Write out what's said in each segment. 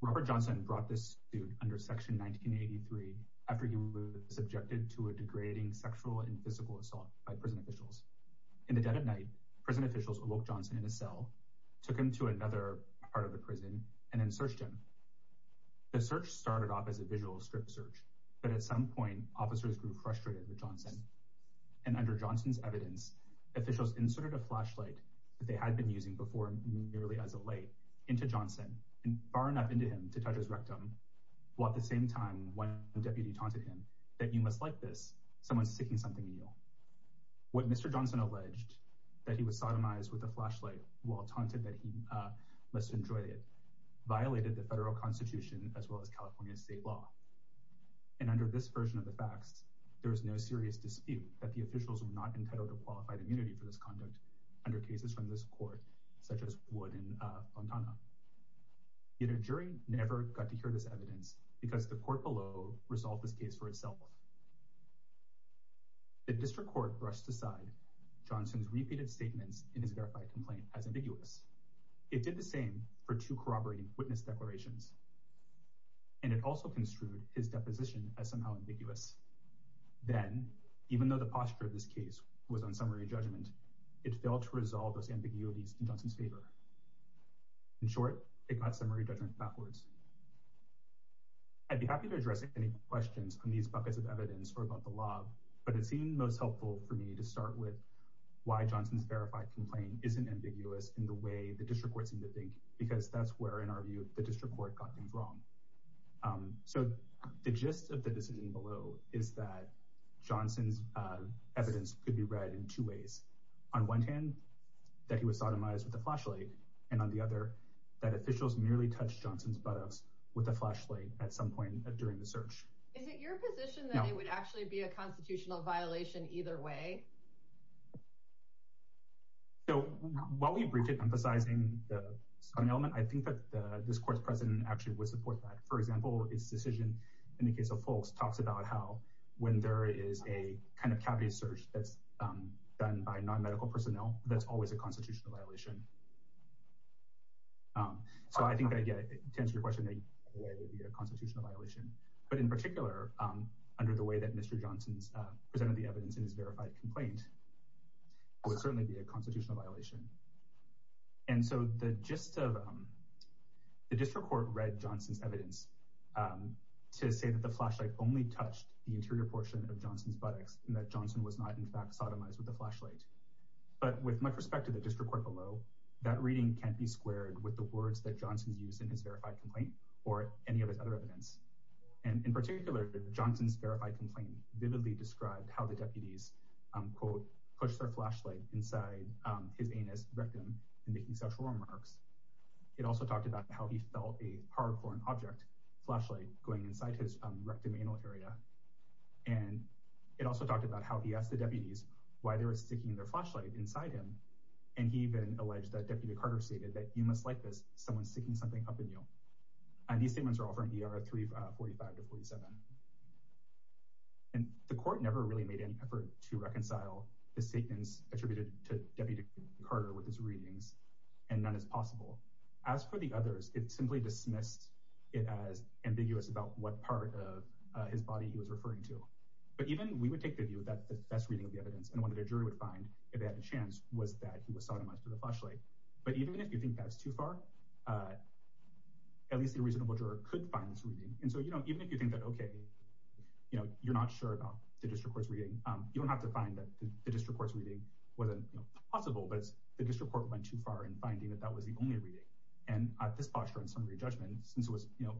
Robert Johnson brought this student under Section 1983 after he was subjected to a degrading sexual and physical assault by prison officials. In the dead of night, prison officials awoke Johnson in a cell, took him to another part of the prison, and then searched him. The search started off as a visual strip search, but at some point, officers grew frustrated with Johnson, and under Johnson's evidence, officials inserted a flashlight that they had been using before, nearly as a light, into Johnson, and far enough into him to touch his rectum, while at the same time, one deputy taunted him, that you must like this, someone's sticking something in you. What Mr. Johnson alleged, that he was sodomized with a flashlight, while taunted that he must enjoy it, violated the federal constitution, as well as California state law. And under this version of the facts, there was no serious dispute that the officials were not entitled to qualified immunity for this conduct under cases from this court, such as Wood and Fontana. Yet a jury never got to hear this evidence, because the court below resolved this case for itself. The district court brushed aside Johnson's repeated statements in his verified complaint as ambiguous. It did the same for two corroborating witness declarations, and it also construed his deposition as somehow ambiguous. Then, even though the posture of this case was on summary judgment, it failed to resolve those ambiguities in Johnson's favor. In short, it got summary judgment backwards. I'd be happy to address any questions on these buckets of evidence or about the law, but it seemed most helpful for me to start with why Johnson's verified complaint isn't ambiguous in the way the district court seemed to think, because that's where, in our view, the district court got things wrong. So the gist of the decision below is that Johnson's evidence could be read in two ways. On one hand, that he was sodomized with a flashlight, and on the other, that officials merely touched Johnson's buttocks with a flashlight at some point during the search. Is it your position that it would actually be a constitutional violation either way? So while we briefed it emphasizing the element, I think that the district court's president actually would support that. For example, his decision in the case of Fulks talks about how when there is a kind of cavity search that's done by non-medical personnel, that's always a constitutional violation. So I think I get it. To answer your question, it would be a constitutional violation. But in particular, under the way that Mr. Johnson's presented the evidence in his verified complaint, it would certainly be a constitutional violation. And so the gist of—the district court read Johnson's evidence to say that the flashlight only touched the interior portion of Johnson's buttocks, and that Johnson was not, in fact, sodomized with a flashlight. But with much respect to the district court below, that reading can't be squared with the words that Johnson used in his verified complaint or any of his other evidence. And in particular, Johnson's verified complaint vividly described how the deputies, quote, pushed their flashlight inside his anus, rectum, and making sexual remarks. It also talked about how he felt a hard-for-an-object flashlight going inside his rectum anal area. And it also talked about how he asked the deputies why they were sticking their flashlight inside him. And he even alleged that Deputy Carter stated that, you must like this, someone sticking something up in you. And these statements are all from ER 345 to 47. And the court never really made any effort to reconcile the statements attributed to Deputy Carter with his readings, and none is possible. As for the others, it simply dismissed it as ambiguous about what part of his body he was referring to. But even—we would take the view that the best reading of the evidence, and one that a jury would find if they had a chance, was that he was sodomized with a flashlight. But even if you think that's too far, at least a reasonable juror could find this reading. And so, you know, even if you think that, okay, you know, you're not sure about the district court's reading, you don't have to find that the district court's reading wasn't possible, but the district court went too far in finding that that was the only reading. And at this posture in summary judgment, since it was, you know,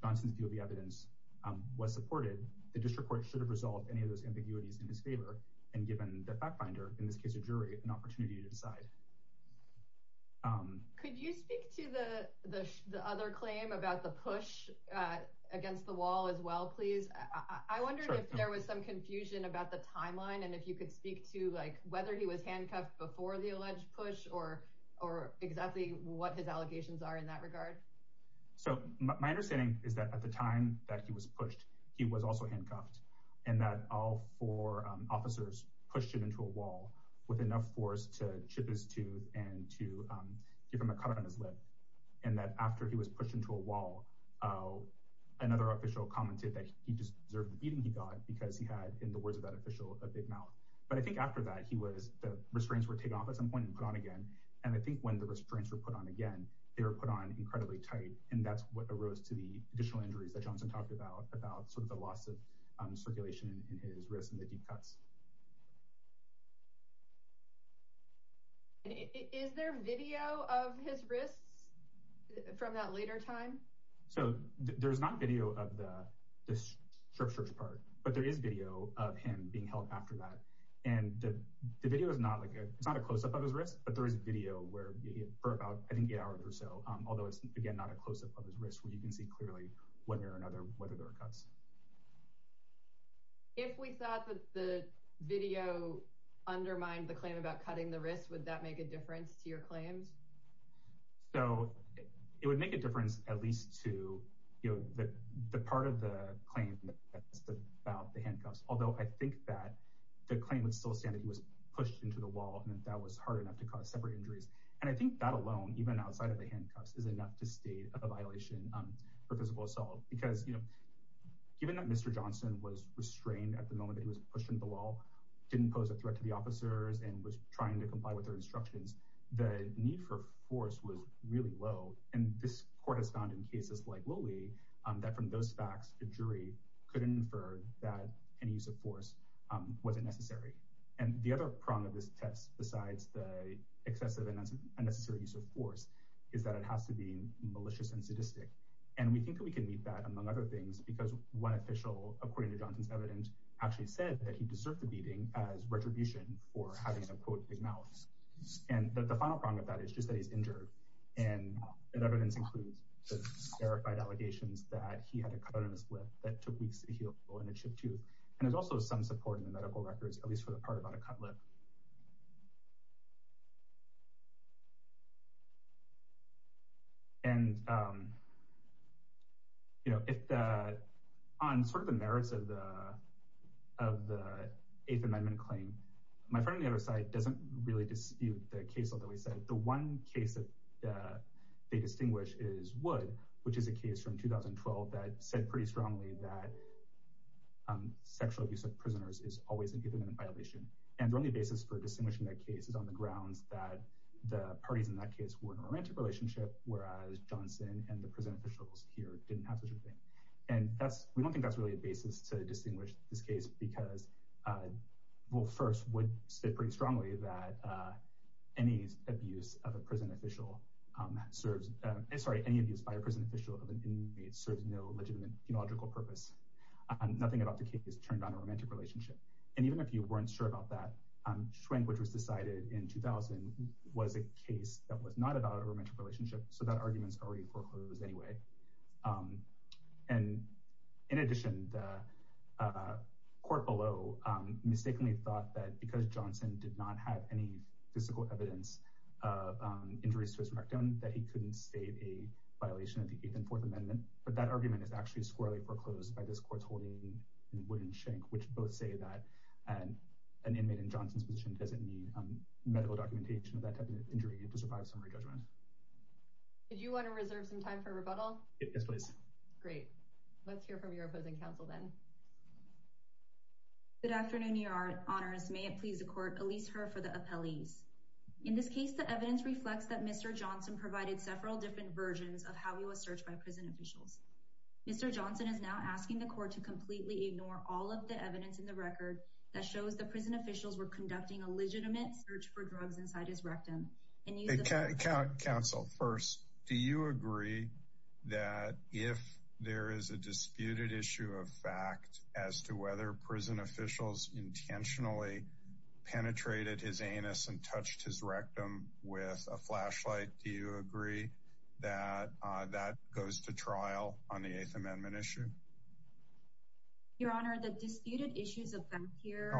Johnson's view of the evidence was supported, the district court should have resolved any of those ambiguities in his favor and given the fact-finder, in this case a jury, an opportunity to decide. Could you speak to the other claim about the push against the wall as well, please? I wondered if there was some confusion about the timeline, and if you could speak to, like, whether he was handcuffed before the alleged push, or exactly what his allegations are in that regard. So my understanding is that at the time that he was pushed, he was also handcuffed, and that all four officers pushed him into a wall with enough force to chip his tooth and to give him a cut on his lip, and that after he was pushed into a wall, another official commented that he just deserved the beating he got because he had, in the words of that official, a big mouth. But I think after that, he was, the restraints were taken off at some point and put on again, and I think when the restraints were put on again, they were put on incredibly tight, and that's what arose to the additional injuries that Johnson talked about, about sort of the loss of circulation in his wrists and the deep cuts. Is there video of his wrists from that later time? So there's not video of the, this chirp-chirp part, but there is video of him being held after that, and the video is not, like, it's not a close-up of his wrists, but there is video where, for about, I think, eight hours or so, although it's, again, not a close-up of his wrists, where you can see clearly, one way or another, whether there were cuts. If we thought that the video undermined the claim about cutting the wrists, would that make a difference to your claims? So it would make a difference at least to, you know, the part of the claim that's about the handcuffs, although I think that the claim would still stand that he was pushed into the wall and that that was hard enough to cause separate injuries, and I think that would be a good explanation for physical assault, because, you know, given that Mr. Johnson was restrained at the moment that he was pushed into the wall, didn't pose a threat to the officers, and was trying to comply with their instructions, the need for force was really low, and this court has found in cases like Willie that from those facts, the jury could infer that any use of force wasn't necessary. And the other problem of this test, besides the excessive and unnecessary use of force, is that it has to be malicious and sadistic, and we think that we can meet that, among other things, because one official, according to Johnson's evidence, actually said that he deserved the beating as retribution for having a, quote, big mouth. And the final prong of that is just that he's injured, and that evidence includes the verified allegations that he had a cut on his lip that took weeks to heal, and a chipped tooth, and there's also some support in the medical records, at least for the part about a cut lip. And, you know, on sort of the merits of the Eighth Amendment claim, my friend on the other side doesn't really dispute the case, although he said the one case that they distinguish is Wood, which is a case from 2012 that said pretty strongly that sexual abuse of prisoners is always an independent violation. And the only basis for distinguishing that case is on the grounds that the parties in that case were in a romantic relationship, whereas Johnson and the prison officials here didn't have such a thing. And that's, we don't think that's really a basis to distinguish this case because, well, first, Wood said pretty strongly that any abuse of a prison official serves, sorry, any abuse by a prison official of an inmate serves no legitimate theological purpose. Nothing about the case turned on a romantic relationship, and even if you weren't sure about that, Schwenk, which was decided in 2000, was a case that was not about a romantic relationship, so that argument's already foreclosed anyway. And, in addition, the court below mistakenly thought that because Johnson did not have any physical evidence of injuries to his rectum that he couldn't state a violation of the Eighth and Fourth Amendment, but that argument is actually squarely foreclosed by this court's ruling in Wood and Schwenk, which both say that an inmate in Johnson's position doesn't need medical documentation of that type of injury to survive a summary judgment. Did you want to reserve some time for rebuttal? Yes, please. Great. Let's hear from your opposing counsel then. Good afternoon, Your Honors. May it please the court, release her for the appellees. In this case, the evidence reflects that Mr. Johnson provided several different versions of how he was searched by prison officials. Mr. Johnson is now asking the court to completely ignore all of the evidence in the record that shows the prison officials were conducting a legitimate search for drugs inside his rectum. Counsel, first, do you agree that if there is a disputed issue of fact as to whether prison officials intentionally penetrated his anus and touched his rectum with a flashlight, do you agree that that goes to trial on the Eighth Amendment issue? Your Honor, the disputed issues of fact here...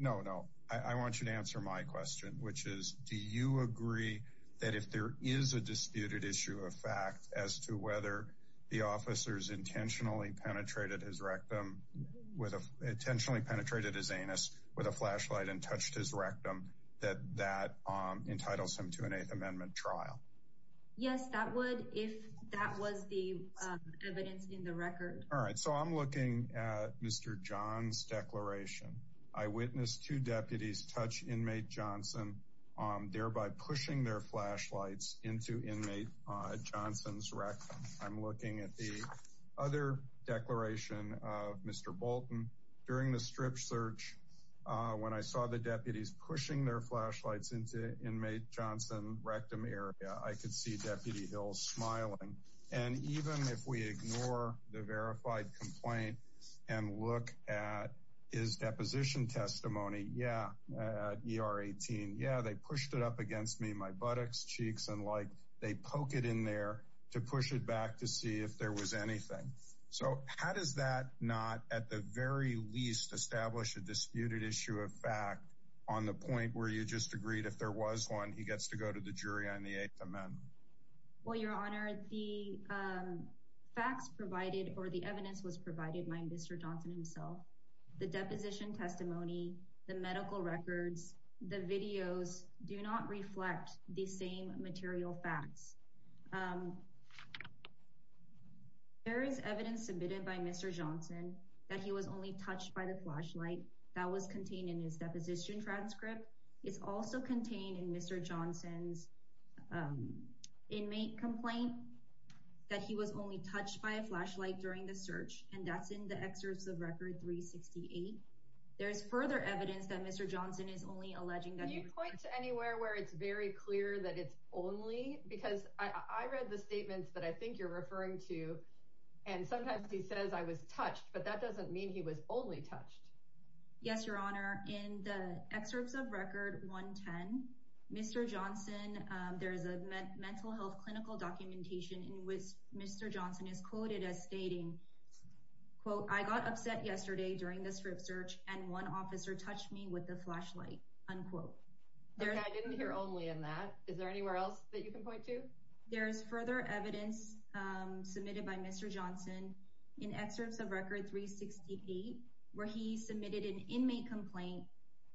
No, no. I want you to answer my question, which is, do you agree that if there is a disputed issue of fact as to whether the officers intentionally penetrated his rectum, intentionally penetrated his anus with a flashlight and touched his rectum, that that entitles him to an Eighth Amendment trial? Yes, that would if that was the evidence in the record. All right, so I'm looking at Mr. John's declaration. I witnessed two deputies touch inmate Johnson, thereby pushing their flashlights into inmate Johnson's rectum. I'm looking at the other declaration of Mr. Bolton. During the strip search, when I saw the deputies pushing their flashlights into inmate Johnson's rectum area, I could see Deputy Hills smiling. And even if we ignore the verified complaint and look at his deposition testimony, yeah, at ER 18, yeah, they pushed it up against me, my buttocks, cheeks, and like they poke it in there to push it back to see if there was anything. So how does that not at the very least establish a disputed issue of fact on the point where you just agreed if there was one, he gets to go to the jury on the Eighth Amendment? Well, Your Honor, the facts provided or the evidence was provided by Mr. Johnson himself. The deposition testimony, the medical records, the videos do not reflect the same material facts. There is evidence submitted by Mr. Johnson that he was only touched by the flashlight that was contained in his deposition transcript. It's also contained in Mr. Johnson's inmate complaint that he was only touched by a flashlight during the search. And that's in the excerpts of Record 368. There is further evidence that Mr. Johnson is only alleging that you point to anywhere where it's very clear that it's only because I read the statements that I think you're referring to. And sometimes he says I was touched, but that doesn't mean he was only touched. Yes, Your Honor. In the excerpts of Record 110, Mr. Johnson, there is a mental health clinical documentation in which Mr. Johnson is quoted as stating, quote, I got upset yesterday during this search and one officer touched me with the flashlight. Unquote. I didn't hear only in that. Is there anywhere else that you can point to? There is further evidence submitted by Mr. Johnson in excerpts of Record 368, where he submitted an inmate complaint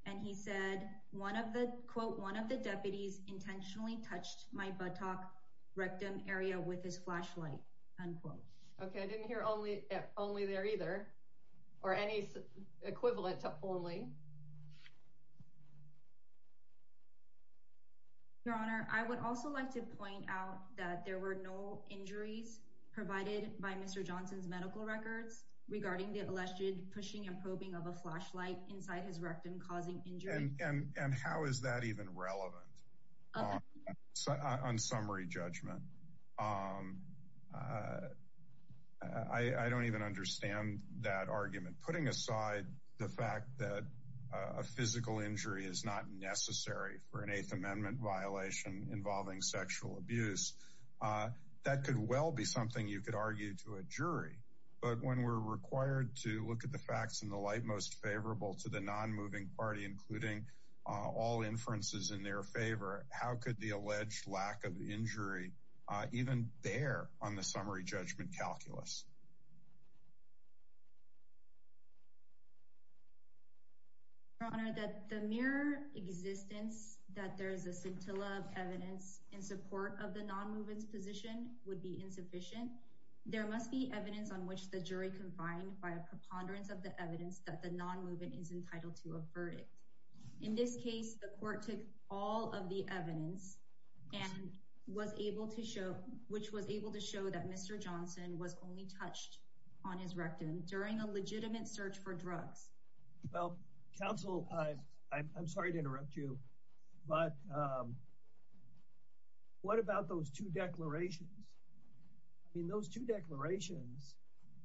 and he said one of the quote, one of the deputies intentionally touched my buttock rectum area with his flashlight. Unquote. Okay. I didn't hear only only there either or any equivalent to only. Your Honor, I would also like to point out that there were no injuries provided by Mr. Johnson's medical records regarding the alleged pushing and probing of a flashlight inside his rectum, causing injury. And how is that even relevant on summary judgment? I don't even understand that argument. Putting aside the fact that a physical injury is not necessary for an Eighth Amendment violation involving sexual abuse, that could well be something you could argue to a jury. But when we're required to look at the facts in the light, most favorable to the non-moving party, including all inferences in their favor. How could the alleged lack of injury even bear on the summary judgment calculus? Your Honor, that the mere existence that there is a scintilla of evidence in support of the non-moving position would be insufficient. There must be evidence on which the jury confined by a preponderance of the evidence that the non-moving is entitled to a verdict. In this case, the court took all of the evidence and was able to show which was able to show that Mr. Johnson was only touched on his rectum during a legitimate search for drugs. Well, counsel, I'm sorry to interrupt you, but what about those two declarations? I mean, those two declarations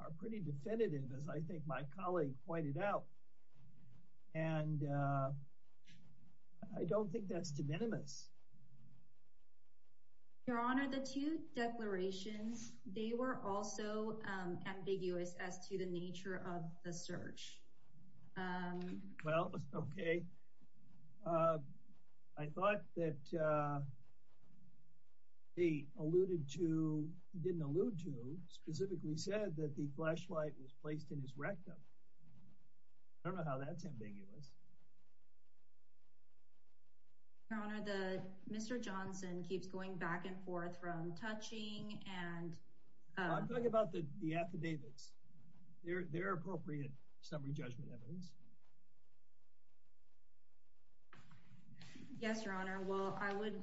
are pretty definitive, as I think my colleague pointed out. And I don't think that's de minimis. Your Honor, the two declarations, they were also ambiguous as to the nature of the search. Well, OK. I thought that they alluded to, didn't allude to, specifically said that the flashlight was placed in his rectum. I don't know how that's ambiguous. Your Honor, Mr. Johnson keeps going back and forth from touching and... I'm talking about the affidavits. They're appropriate summary judgment evidence. Yes, Your Honor. Well, I would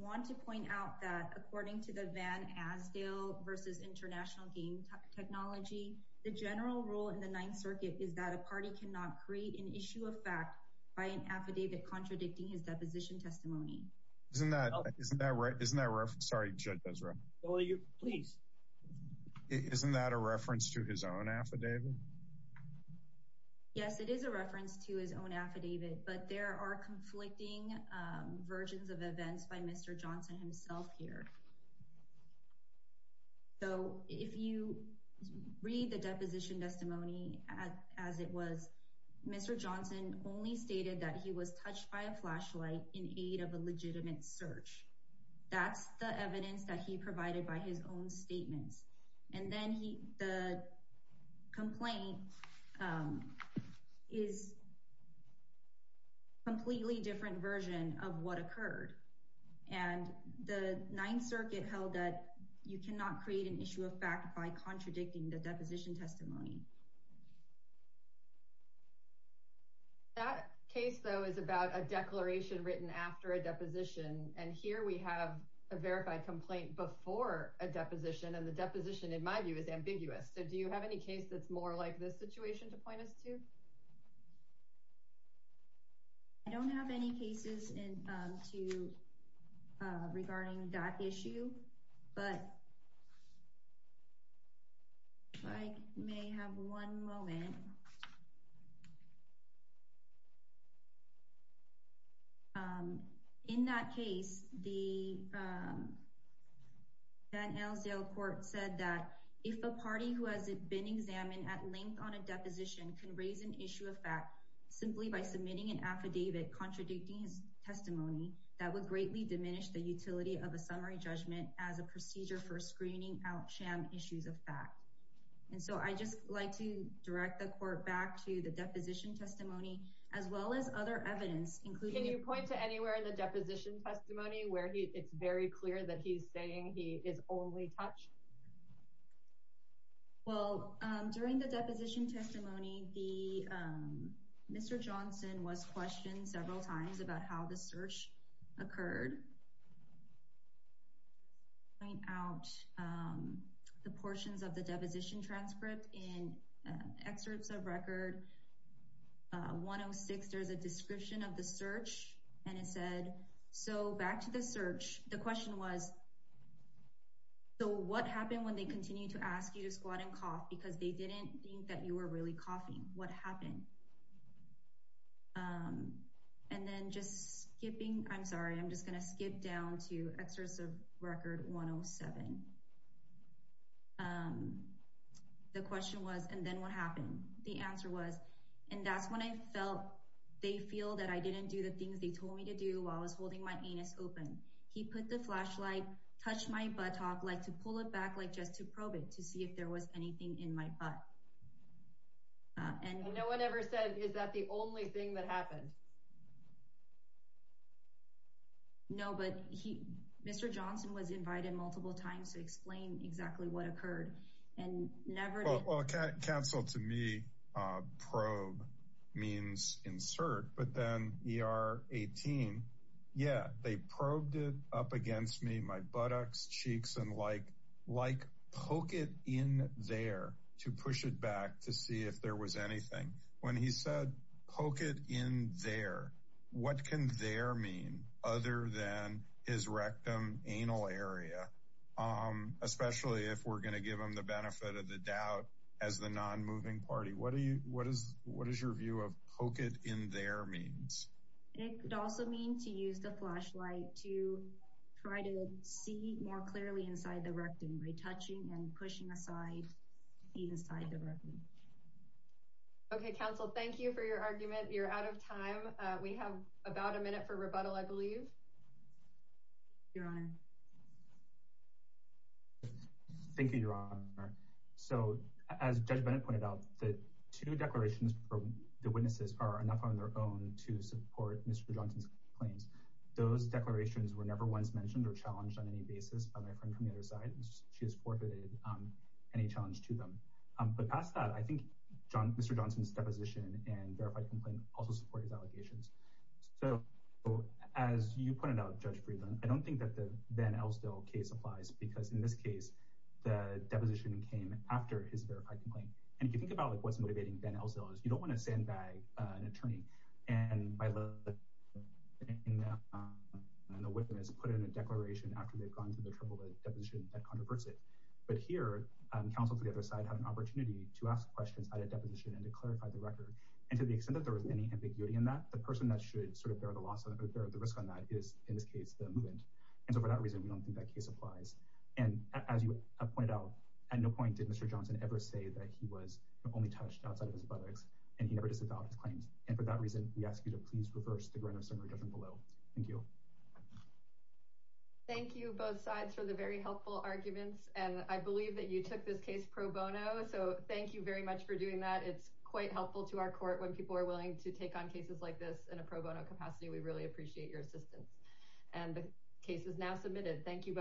want to point out that according to the Van Asdale v. International Game Technology, the general rule in the Ninth Circuit is that a party cannot create an issue of fact by an affidavit contradicting his deposition testimony. Isn't that right? Please. Isn't that a reference to his own affidavit? Yes, it is a reference to his own affidavit, but there are conflicting versions of events by Mr. Johnson himself here. So if you read the deposition testimony as it was, Mr. Johnson only stated that he was touched by a flashlight in aid of a legitimate search. That's the evidence that he provided by his own statements. And then the complaint is a completely different version of what occurred. And the Ninth Circuit held that you cannot create an issue of fact by contradicting the deposition testimony. That case, though, is about a declaration written after a deposition. And here we have a verified complaint before a deposition. And the deposition, in my view, is ambiguous. So do you have any case that's more like this situation to point us to? I don't have any cases to regarding that issue. But if I may have one moment. In that case, the Van Alesdale court said that if a party who has been examined at length on a deposition can raise an issue of fact simply by submitting an affidavit contradicting his testimony, that would greatly diminish the utility of a summary judgment as a procedure for screening out sham issues of fact. And so I just like to direct the court back to the deposition testimony, as well as other evidence. Can you point to anywhere in the deposition testimony where it's very clear that he's saying he is only touched? Well, during the deposition testimony, Mr. Johnson was questioned several times about how the search occurred. Point out the portions of the deposition transcript in excerpts of record 106. There's a description of the search. And it said, so back to the search. The question was, so what happened when they continue to ask you to squat and cough because they didn't think that you were really coughing? What happened? And then just skipping. I'm sorry, I'm just going to skip down to excerpts of record 107. The question was, and then what happened? The answer was, and that's when I felt they feel that I didn't do the things they told me to do while I was holding my anus open. He put the flashlight, touched my buttock, like to pull it back, like just to probe it to see if there was anything in my butt. And no one ever said, is that the only thing that happened? No, but he, Mr. Johnson was invited multiple times to explain exactly what occurred and never. Well, can't cancel to me. Probe means insert. But then you are 18. Yeah, they probed it up against me, my buttocks, cheeks and like like poke it in there to push it back to see if there was anything. When he said poke it in there. What can there mean other than his rectum anal area, especially if we're going to give him the benefit of the doubt as the non moving party? What do you what is what is your view of poke it in there means it could also mean to use the flashlight to try to see more clearly inside the rectum by touching and pushing aside inside the room. OK, counsel, thank you for your argument. You're out of time. We have about a minute for rebuttal, I believe. Your Honor. Thank you, Your Honor. So as Judge Bennett pointed out, the two declarations from the witnesses are enough on their own to support Mr. Johnson's claims. Those declarations were never once mentioned or challenged on any basis by my friend from the other side. She has forfeited any challenge to them. But past that, I think Mr. Johnson's deposition and verified complaint also support his allegations. So as you pointed out, Judge Friedland, I don't think that the Van Elsdale case applies, because in this case, the deposition came after his verified complaint. And if you think about what's motivating Van Elsdale is you don't want to sandbag an attorney. And my love and the witness put in a declaration after they've gone through the trouble of deposition that controversy. But here, counsel to the other side had an opportunity to ask questions at a deposition and to clarify the record. And to the extent that there was any ambiguity in that, the person that should sort of bear the loss of the risk on that is, in this case, the movement. And so for that reason, we don't think that case applies. And as you pointed out, at no point did Mr. Johnson ever say that he was only touched outside of his buttocks and he never disavowed his claims. And for that reason, we ask you to please reverse the Grinnell Center judgment below. Thank you. Thank you, both sides, for the very helpful arguments. And I believe that you took this case pro bono. So thank you very much for doing that. It's quite helpful to our court when people are willing to take on cases like this in a pro bono capacity. We really appreciate your assistance. And the case is now submitted. Thank you both. Thank you.